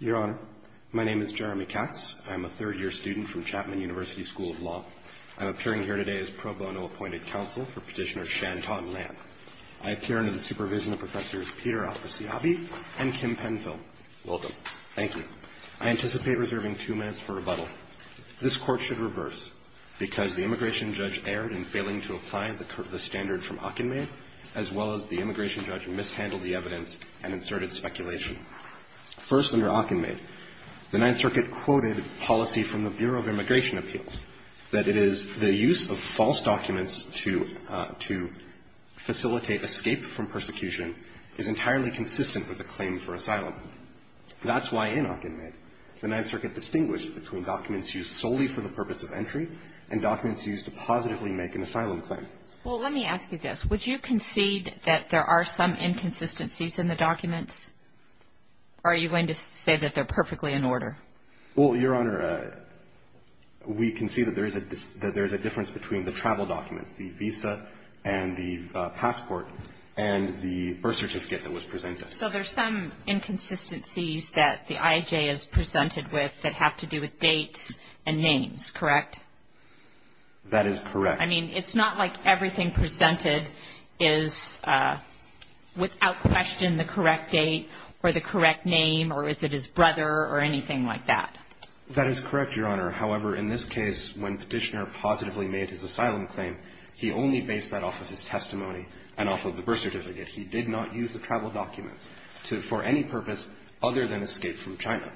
Your Honor, my name is Jeremy Katz. I'm a third-year student from Chapman University School of Law. I'm appearing here today as pro bono appointed counsel for Petitioner Shantan Lam. I appear under the supervision of Professors Peter Al-Qassiyabi and Kim Penfield. Welcome. Thank you. I anticipate reserving two minutes for rebuttal. This Court should reverse, because the immigration judge erred in failing to apply the standard from Hockenmaid, as well as the immigration judge mishandled the evidence and inserted speculation. First, under Hockenmaid, the Ninth Circuit quoted policy from the Bureau of Immigration Appeals, that it is the use of false documents to facilitate escape from persecution is entirely consistent with a claim for asylum. That's why in Hockenmaid, the Ninth Circuit distinguished between documents used solely for the purpose of entry and documents used to positively make an asylum claim. Well, let me ask you this. Would you concede that there are some inconsistencies in the documents? Are you going to say that they're perfectly in order? Well, Your Honor, we concede that there is a difference between the travel documents, the visa and the passport, and the birth certificate that was presented. So there's some inconsistencies that the IAJ has presented with that have to do with dates and names, correct? That is correct. I mean, it's not like everything presented is without question the correct date or the correct name or is it his brother or anything like that. That is correct, Your Honor. However, in this case, when Petitioner positively made his asylum claim, he only based that off of his testimony and off of the birth certificate. He did not use the travel documents for any purpose other than escape from China.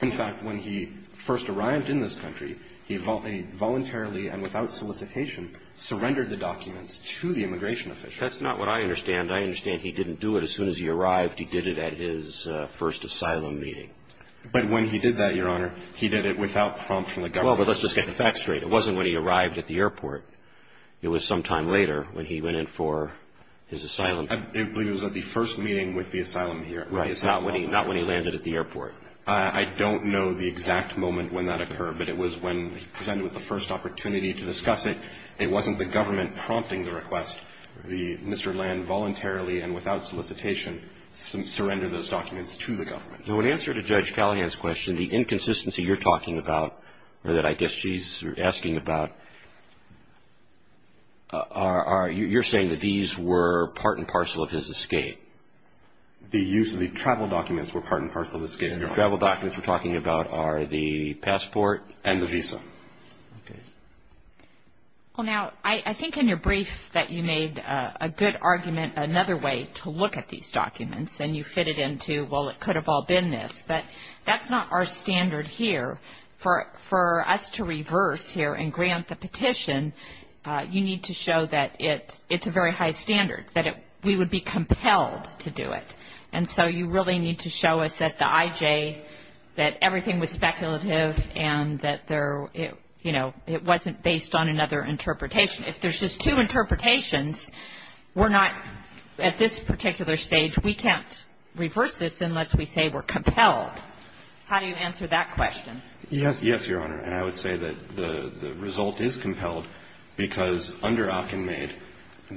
In fact, when he first arrived in this country, he voluntarily and without solicitation surrendered the documents to the immigration official. That's not what I understand. I understand he didn't do it as soon as he arrived. He did it at his first asylum meeting. But when he did that, Your Honor, he did it without prompt from the government. Well, but let's just get the facts straight. It wasn't when he arrived at the airport. It was sometime later when he went in for his asylum. I believe it was at the first meeting with the asylum here. Not when he landed at the airport. I don't know the exact moment when that occurred, but it was when he presented with the first opportunity to discuss it. It wasn't the government prompting the request. Mr. Land voluntarily and without solicitation surrendered those documents to the government. Now, in answer to Judge Callahan's question, the inconsistency you're talking about or that I guess she's asking about, you're saying that these were part and parcel of his escape. The use of the travel documents were part and parcel of his escape. The travel documents you're talking about are the passport and the visa. Okay. Well, now, I think in your brief that you made a good argument, another way to look at these documents, and you fit it into, well, it could have all been this. But that's not our standard here. For us to reverse here and grant the petition, you need to show that it's a very high standard, that we would be compelled to do it. And so you really need to show us that the IJ, that everything was speculative and that there, you know, it wasn't based on another interpretation. If there's just two interpretations, we're not at this particular stage, we can't reverse this unless we say we're compelled. How do you answer that question? Yes, Your Honor. And I would say that the result is compelled because under Akinmaid,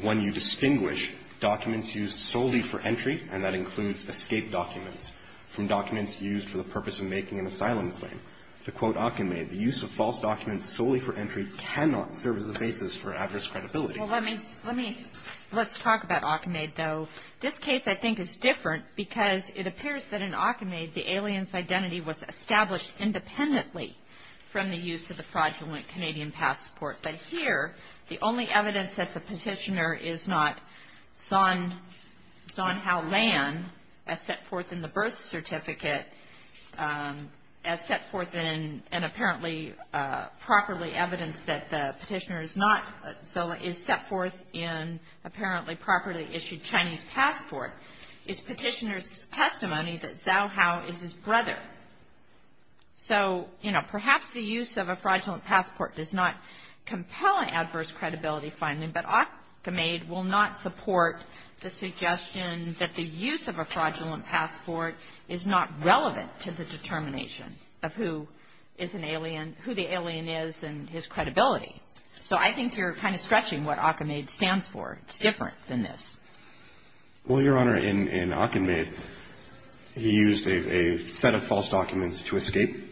when you distinguish documents used solely for entry, and that includes escape documents, from documents used for the purpose of making an asylum claim. To quote Akinmaid, the use of false documents solely for entry cannot serve as the basis for adverse credibility. Well, let me, let's talk about Akinmaid, though. This case, I think, is different because it appears that in Akinmaid, the alien's identity was established independently from the use of the fraudulent Canadian passport. But here, the only evidence that the petitioner is not Zhaohao Lan, as set forth in the birth certificate, as set forth in, and apparently properly evidenced that the petitioner is not, so is set forth in apparently properly issued Chinese passport, is petitioner's testimony that Zhaohao is his brother. So, you know, perhaps the use of a fraudulent passport does not compel an adverse credibility finding, but Akinmaid will not support the suggestion that the use of a fraudulent passport is not relevant to the determination of who is an alien, who the alien is and his credibility. So I think you're kind of stretching what Akinmaid stands for. It's different than this. Well, Your Honor, in Akinmaid, he used a set of false documents to escape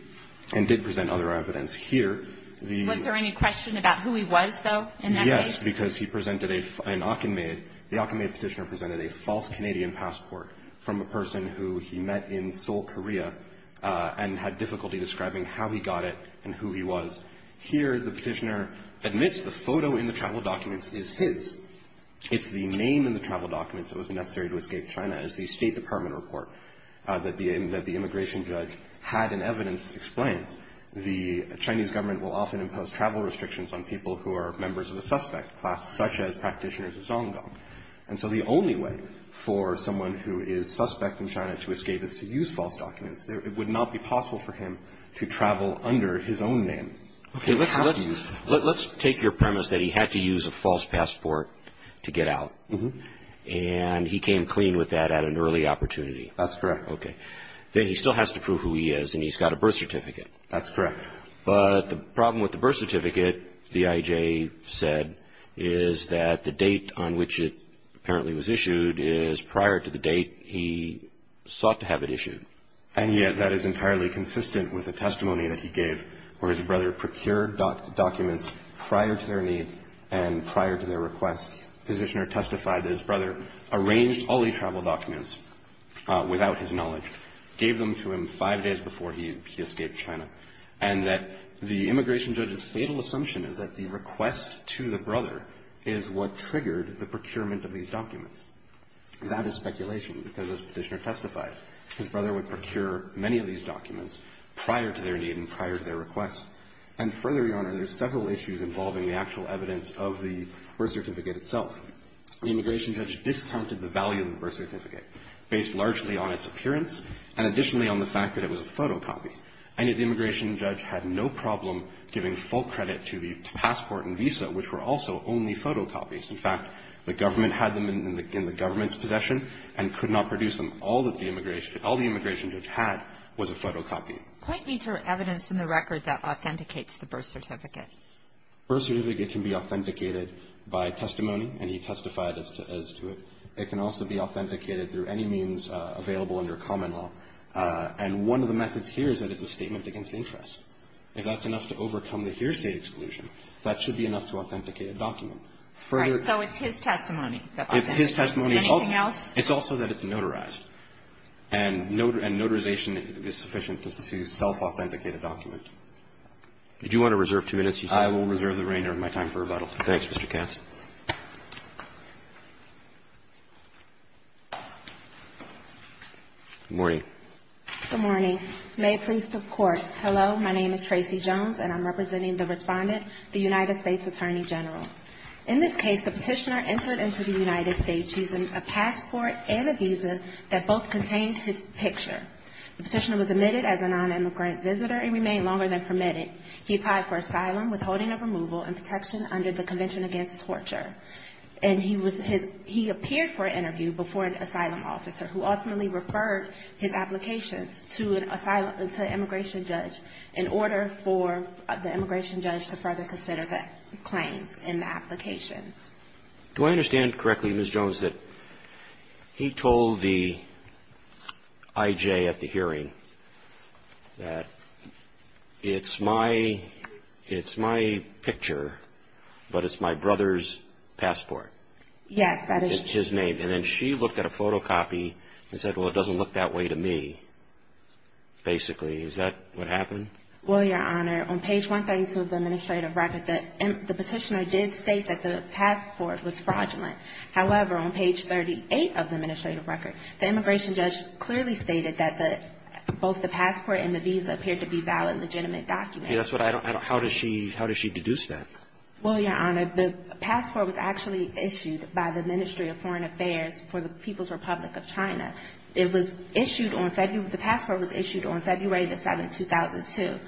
and did present other evidence. Here, the ---- Was there any question about who he was, though, in that case? Yes, because he presented a ---- in Akinmaid, the Akinmaid petitioner presented a false Canadian passport from a person who he met in Seoul, Korea, and had difficulty describing how he got it and who he was. Here, the petitioner admits the photo in the travel documents is his. It's the name in the travel documents that was necessary to escape China. It's the State Department report that the immigration judge had in evidence explains the Chinese government will often impose travel restrictions on people who are members of the suspect class, such as practitioners of Songgong. And so the only way for someone who is suspect in China to escape is to use false documents. It would not be possible for him to travel under his own name. Okay, let's take your premise that he had to use a false passport to get out, and he came clean with that at an early opportunity. That's correct. Okay. Then he still has to prove who he is, and he's got a birth certificate. That's correct. But the problem with the birth certificate, the IJ said, is that the date on which it apparently was issued is prior to the date he sought to have it issued. And yet that is entirely consistent with the testimony that he gave, where his brother procured documents prior to their need and prior to their request. The petitioner testified that his brother arranged all these travel documents without his knowledge, gave them to him five days before he escaped China, and that the immigration judge's fatal assumption is that the request to the brother is what triggered the procurement of these documents. That is speculation because, as the petitioner testified, his brother would procure many of these documents prior to their need and prior to their request. And further, Your Honor, there's several issues involving the actual evidence of the birth certificate itself. The immigration judge discounted the value of the birth certificate based largely on its appearance and additionally on the fact that it was a photocopy. And yet the immigration judge had no problem giving full credit to the passport and visa, which were also only photocopies. In fact, the government had them in the government's possession and could not produce them. All that the immigration judge had was a photocopy. Kagan. Quite little evidence in the record that authenticates the birth certificate. The birth certificate can be authenticated by testimony, and he testified as to it. It can also be authenticated through any means available under common law. And one of the methods here is that it's a statement against interest. If that's enough to overcome the hearsay exclusion, that should be enough to authenticate a document. All right. So it's his testimony. It's his testimony. Anything else? It's also that it's notarized. And notarization is sufficient to self-authenticate a document. Did you want to reserve two minutes, you said? I will reserve the remainder of my time for rebuttal. Thanks, Mr. Katz. Good morning. Good morning. May it please the Court. Hello. My name is Tracy Jones, and I'm representing the respondent, the United States Attorney General. In this case, the petitioner entered into the United States using a passport and a visa that both contained his picture. The petitioner was admitted as a non-immigrant visitor and remained longer than permitted. He applied for asylum withholding of removal and protection under the Convention Against Torture. And he was his he appeared for an interview before an asylum officer, who ultimately referred his applications to an immigration judge in order for the immigration judge to further consider the claims and the applications. Do I understand correctly, Ms. Jones, that he told the IJ at the hearing that it's my picture, but it's my brother's passport? Yes, that is true. It's his name. And then she looked at a photocopy and said, well, it doesn't look that way to me, basically. Is that what happened? Well, Your Honor, on page 132 of the administrative record, the petitioner did state that the passport was fraudulent. However, on page 38 of the administrative record, the immigration judge clearly stated that both the passport and the visa appeared to be valid, legitimate documents. How does she deduce that? Well, Your Honor, the passport was actually issued by the Ministry of Foreign Affairs for the People's Republic of China. It was issued on February the 7th, 2002,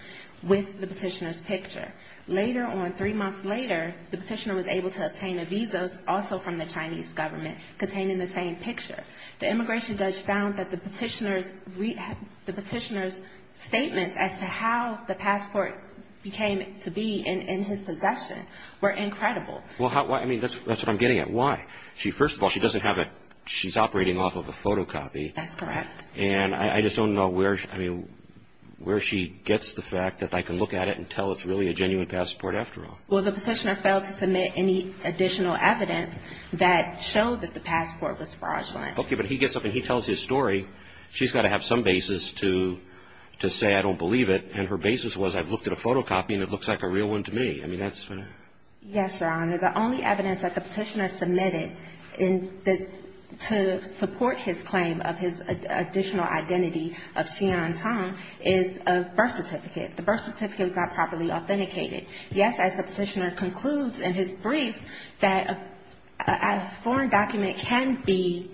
with the petitioner's picture. Later on, three months later, the petitioner was able to obtain a visa also from the Chinese government containing the same picture. The immigration judge found that the petitioner's statements as to how the passport became to be in his possession were incredible. Well, I mean, that's what I'm getting at. Why? First of all, she doesn't have it. She's operating off of a photocopy. That's correct. And I just don't know where she gets the fact that I can look at it and tell it's really a genuine passport after all. Well, the petitioner failed to submit any additional evidence that showed that the passport was fraudulent. Okay, but he gets up and he tells his story. She's got to have some basis to say, I don't believe it. And her basis was, I've looked at a photocopy and it looks like a real one to me. I mean, that's what I'm getting at. Yes, Your Honor. The only evidence that the petitioner submitted to support his claim of his additional identity of Xi'an Tong is a birth certificate. The birth certificate was not properly authenticated. Yes, as the petitioner concludes in his brief that a foreign document can be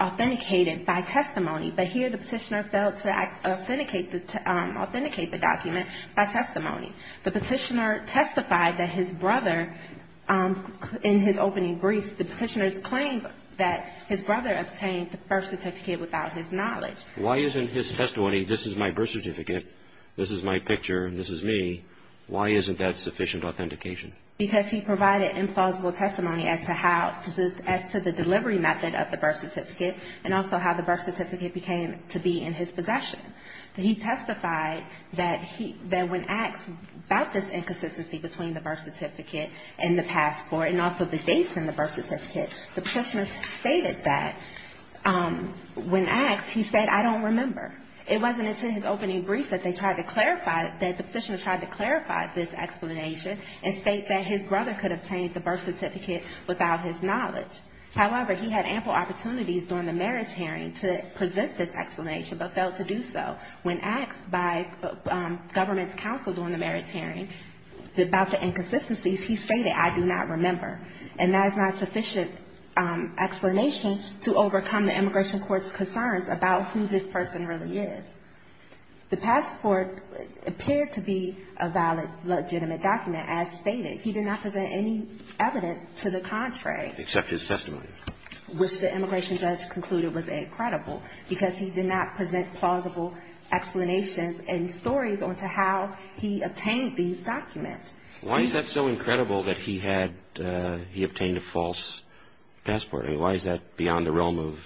authenticated by testimony. But here the petitioner failed to authenticate the document by testimony. The petitioner testified that his brother, in his opening brief, the petitioner claimed that his brother obtained the birth certificate without his knowledge. Why isn't his testimony, this is my birth certificate, this is my picture, this is me. Why isn't that sufficient authentication? Because he provided implausible testimony as to how, as to the delivery method of the birth certificate, and also how the birth certificate became to be in his possession. He testified that he, that when asked about this inconsistency between the birth certificate and the passport, and also the dates in the birth certificate, the petitioner stated that when asked, he said, I don't remember. It wasn't until his opening brief that they tried to clarify, that the petitioner tried to clarify this explanation and state that his brother could obtain the birth certificate without his knowledge. However, he had ample opportunities during the merits hearing to present this explanation, but failed to do so. When asked by government's counsel during the merits hearing about the inconsistencies, he stated, I do not remember. And that is not sufficient explanation to overcome the immigration court's concerns about who this person really is. The passport appeared to be a valid, legitimate document, as stated. He did not present any evidence to the contrary. Except his testimony. Which the immigration judge concluded was incredible, because he did not present plausible explanations and stories on to how he obtained these documents. Why is that so incredible that he had, he obtained a false passport? I mean, why is that beyond the realm of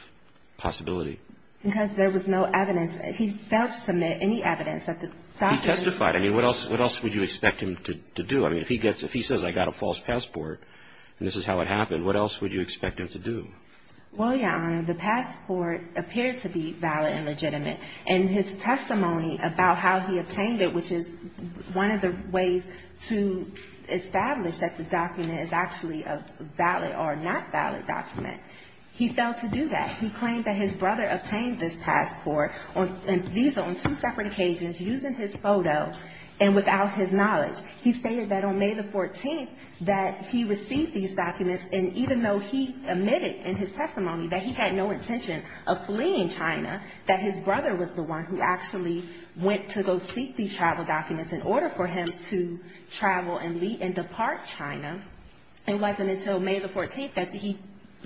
possibility? Because there was no evidence. He failed to submit any evidence that the documents. He testified. I mean, what else would you expect him to do? I mean, if he gets, if he says, I got a false passport, and this is how it happened, what else would you expect him to do? Well, Your Honor, the passport appeared to be valid and legitimate. And his testimony about how he obtained it, which is one of the ways to establish that the document is actually a valid or not valid document, he failed to do that. He claimed that his brother obtained this passport, and these are on two separate occasions, using his photo and without his knowledge. He stated that on May the 14th that he received these documents, and even though he admitted in his testimony that he had no intention of fleeing China, that his brother was the one who actually went to go seek these travel documents in order for him to travel and leave and depart China, it wasn't until May the 14th that he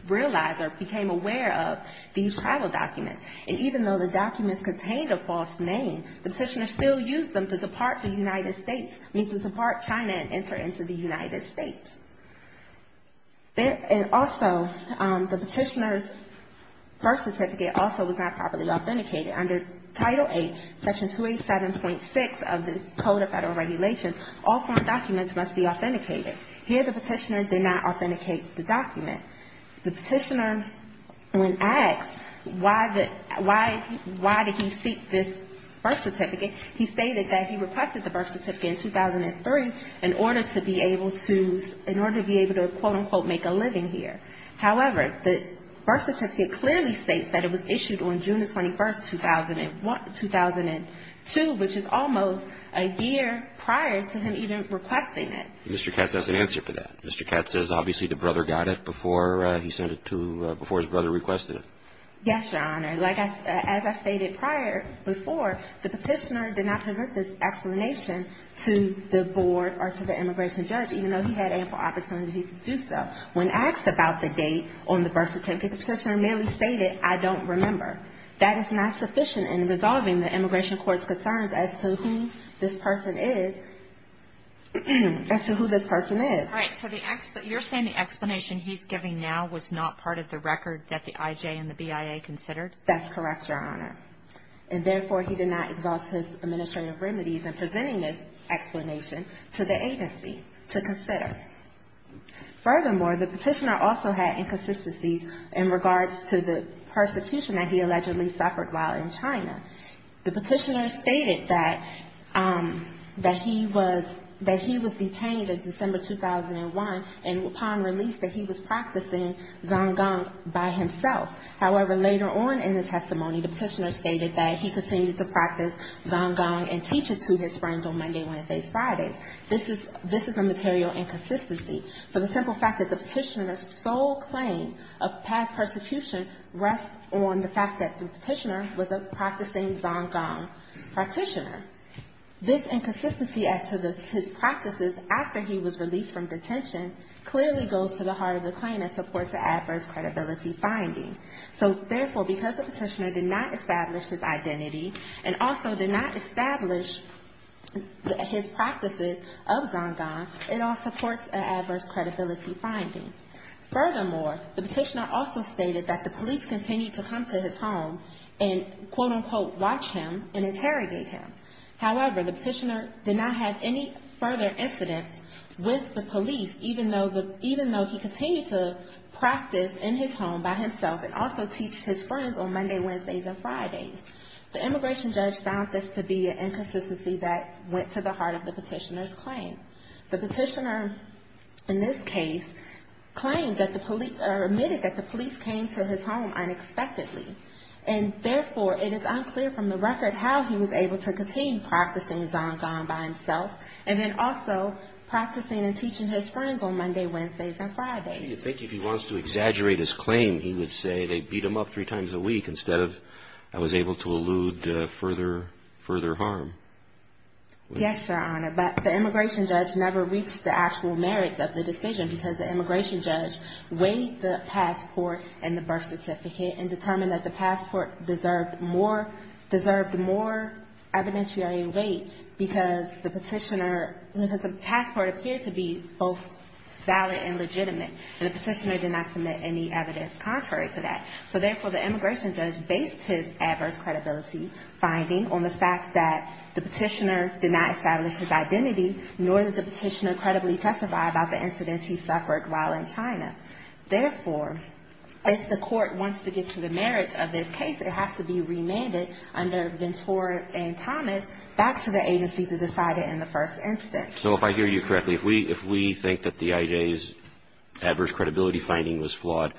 realized or became aware of these travel documents. And even though the documents contained a false name, the petitioner still used them to depart the United States, meaning to depart China and enter into the United States. And also, the petitioner's birth certificate also was not properly authenticated. Under Title VIII, Section 287.6 of the Code of Federal Regulations, all foreign documents must be authenticated. Here, the petitioner did not authenticate the document. The petitioner, when asked why did he seek this birth certificate, he stated that he requested the birth certificate in 2003 in order to be able to quote, unquote, make a living here. However, the birth certificate clearly states that it was issued on June the 21st, 2002, which is almost a year prior to him even requesting it. Mr. Katz has an answer for that. Mr. Katz says obviously the brother got it before he sent it to – before his brother requested it. Yes, Your Honor. As I stated prior, before, the petitioner did not present this explanation to the board or to the immigration judge, even though he had ample opportunity to do so. When asked about the date on the birth certificate, the petitioner merely stated, I don't remember. That is not sufficient in resolving the immigration court's concerns as to who this person is – as to who this person is. Right. So the – you're saying the explanation he's giving now was not part of the record that the IJ and the BIA considered? That's correct, Your Honor. And therefore, he did not exhaust his administrative remedies in presenting this explanation to the agency to consider. Furthermore, the petitioner also had inconsistencies in regards to the persecution that he allegedly suffered while in China. The petitioner stated that – that he was – that he was detained in December 2001 and upon release that he was practicing Zonggang by himself. However, later on in the testimony, the petitioner stated that he continued to practice Zonggang and teach it to his friends on Monday, Wednesdays, Fridays. This is – this is a material inconsistency for the simple fact that the petitioner's sole claim of past persecution rests on the fact that the petitioner was a practicing Zonggang practitioner. This inconsistency as to his practices after he was released from detention clearly goes to the heart of the claim and supports the adverse credibility finding. So therefore, because the petitioner did not establish his identity and also did not establish his practices of Zonggang, it all supports an adverse credibility finding. Furthermore, the petitioner also stated that the police continued to come to his home and, quote-unquote, watch him and interrogate him. However, the petitioner did not have any further incidents with the police even though the – even though he continued to practice in his home by himself and also teach his friends on Monday, Wednesdays, and Fridays. The immigration judge found this to be an inconsistency that went to the heart of the petitioner's claim. The petitioner, in this case, claimed that the police – or admitted that the police came to his home unexpectedly. And therefore, it is unclear from the record how he was able to continue practicing Zonggang by himself and then also practicing and teaching his friends on Monday, Wednesdays, and Fridays. I think if he wants to exaggerate his claim, he would say they beat him up three times a week instead of I was able to elude further – further harm. Yes, Your Honor, but the immigration judge never reached the actual merits of the decision because the immigration judge weighed the passport and the birth certificate and determined that the passport deserved more – deserved more evidentiary weight because the petitioner – because the passport appeared to be both valid and legitimate. And the petitioner did not submit any evidence contrary to that. So therefore, the immigration judge based his adverse credibility finding on the fact that the petitioner did not establish his identity nor did the petitioner credibly testify about the incidents he suffered while in China. Therefore, if the court wants to get to the merits of this case, it has to be remanded under Ventura and Thomas back to the agency to decide it in the first instance. So if I hear you correctly, if we – if we think that the IJ's adverse credibility finding was flawed,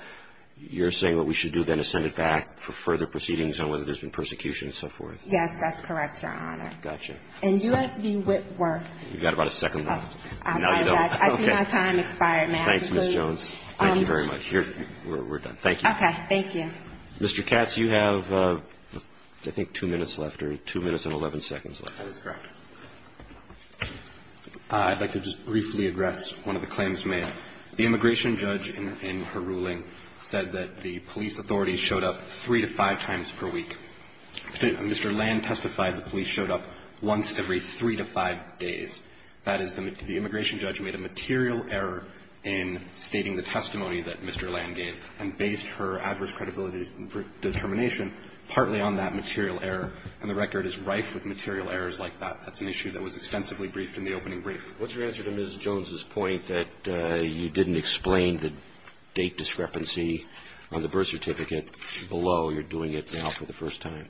you're saying what we should do then is send it back for further proceedings on whether there's been persecution and so forth? Yes, that's correct, Your Honor. Got you. And U.S. v. Whitworth. You've got about a second left. Now you don't. I see my time expired, ma'am. Thanks, Ms. Jones. Thank you very much. We're done. Thank you. Okay. Thank you. Mr. Katz, you have, I think, two minutes left or two minutes and 11 seconds left. That is correct. I'd like to just briefly address one of the claims made. The immigration judge in her ruling said that the police authorities showed up three to five times per week. Mr. Land testified the police showed up once every three to five days. That is, the immigration judge made a material error in stating the testimony that Mr. Land gave and based her adverse credibility determination partly on that material error, and the record is rife with material errors like that. That's an issue that was extensively briefed in the opening brief. What's your answer to Ms. Jones' point that you didn't explain the date discrepancy on the birth certificate below you're doing it now for the first time?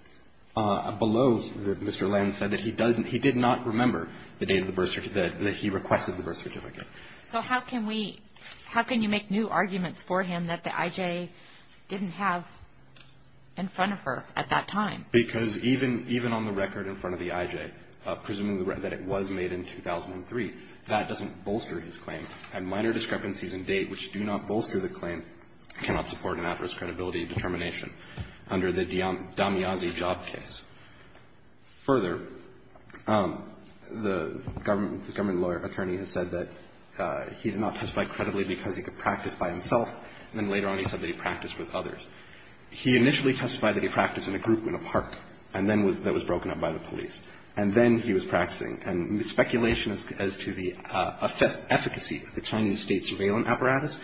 Below, Mr. Land said that he doesn't he did not remember the date of the birth certificate that he requested the birth certificate. So how can we how can you make new arguments for him that the I.J. didn't have in front of her at that time? Because even on the record in front of the I.J., presuming that it was made in 2003, that doesn't bolster his claim. And minor discrepancies in date which do not bolster the claim cannot support an adverse credibility determination under the Damyazi job case. Further, the government lawyer attorney has said that he did not testify credibly because he could practice by himself, and then later on he said that he practiced with others. He initially testified that he practiced in a group in a park, and then that was broken up by the police. And then he was practicing. And the speculation as to the efficacy of the Chinese state surveillance apparatus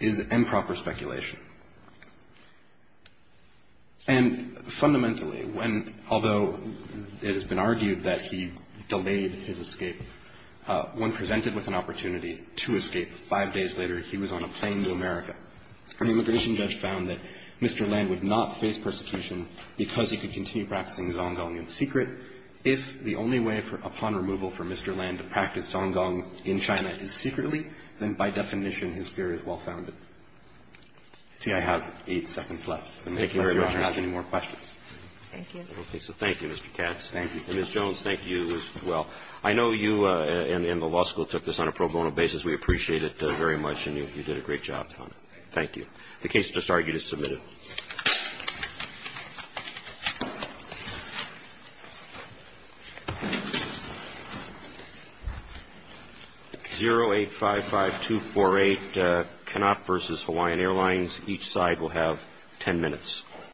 is improper speculation. And fundamentally, when although it has been argued that he delayed his escape, when presented with an opportunity to escape five days later, he was on a plane to America. The immigration judge found that Mr. Land would not face persecution because he could continue practicing Zonggong in secret. If the only way upon removal for Mr. Land to practice Zonggong in China is secretly, then by definition his fear is well-founded. See, I have eight seconds left. Thank you, Your Honor. If you have any more questions. Thank you. Okay. So thank you, Mr. Katz. Thank you. And, Ms. Jones, thank you as well. I know you and the law school took this on a pro bono basis. We appreciate it very much, and you did a great job. Thank you. The case is disargued as submitted. 0855248, Canop versus Hawaiian Airlines. Each side will have ten minutes.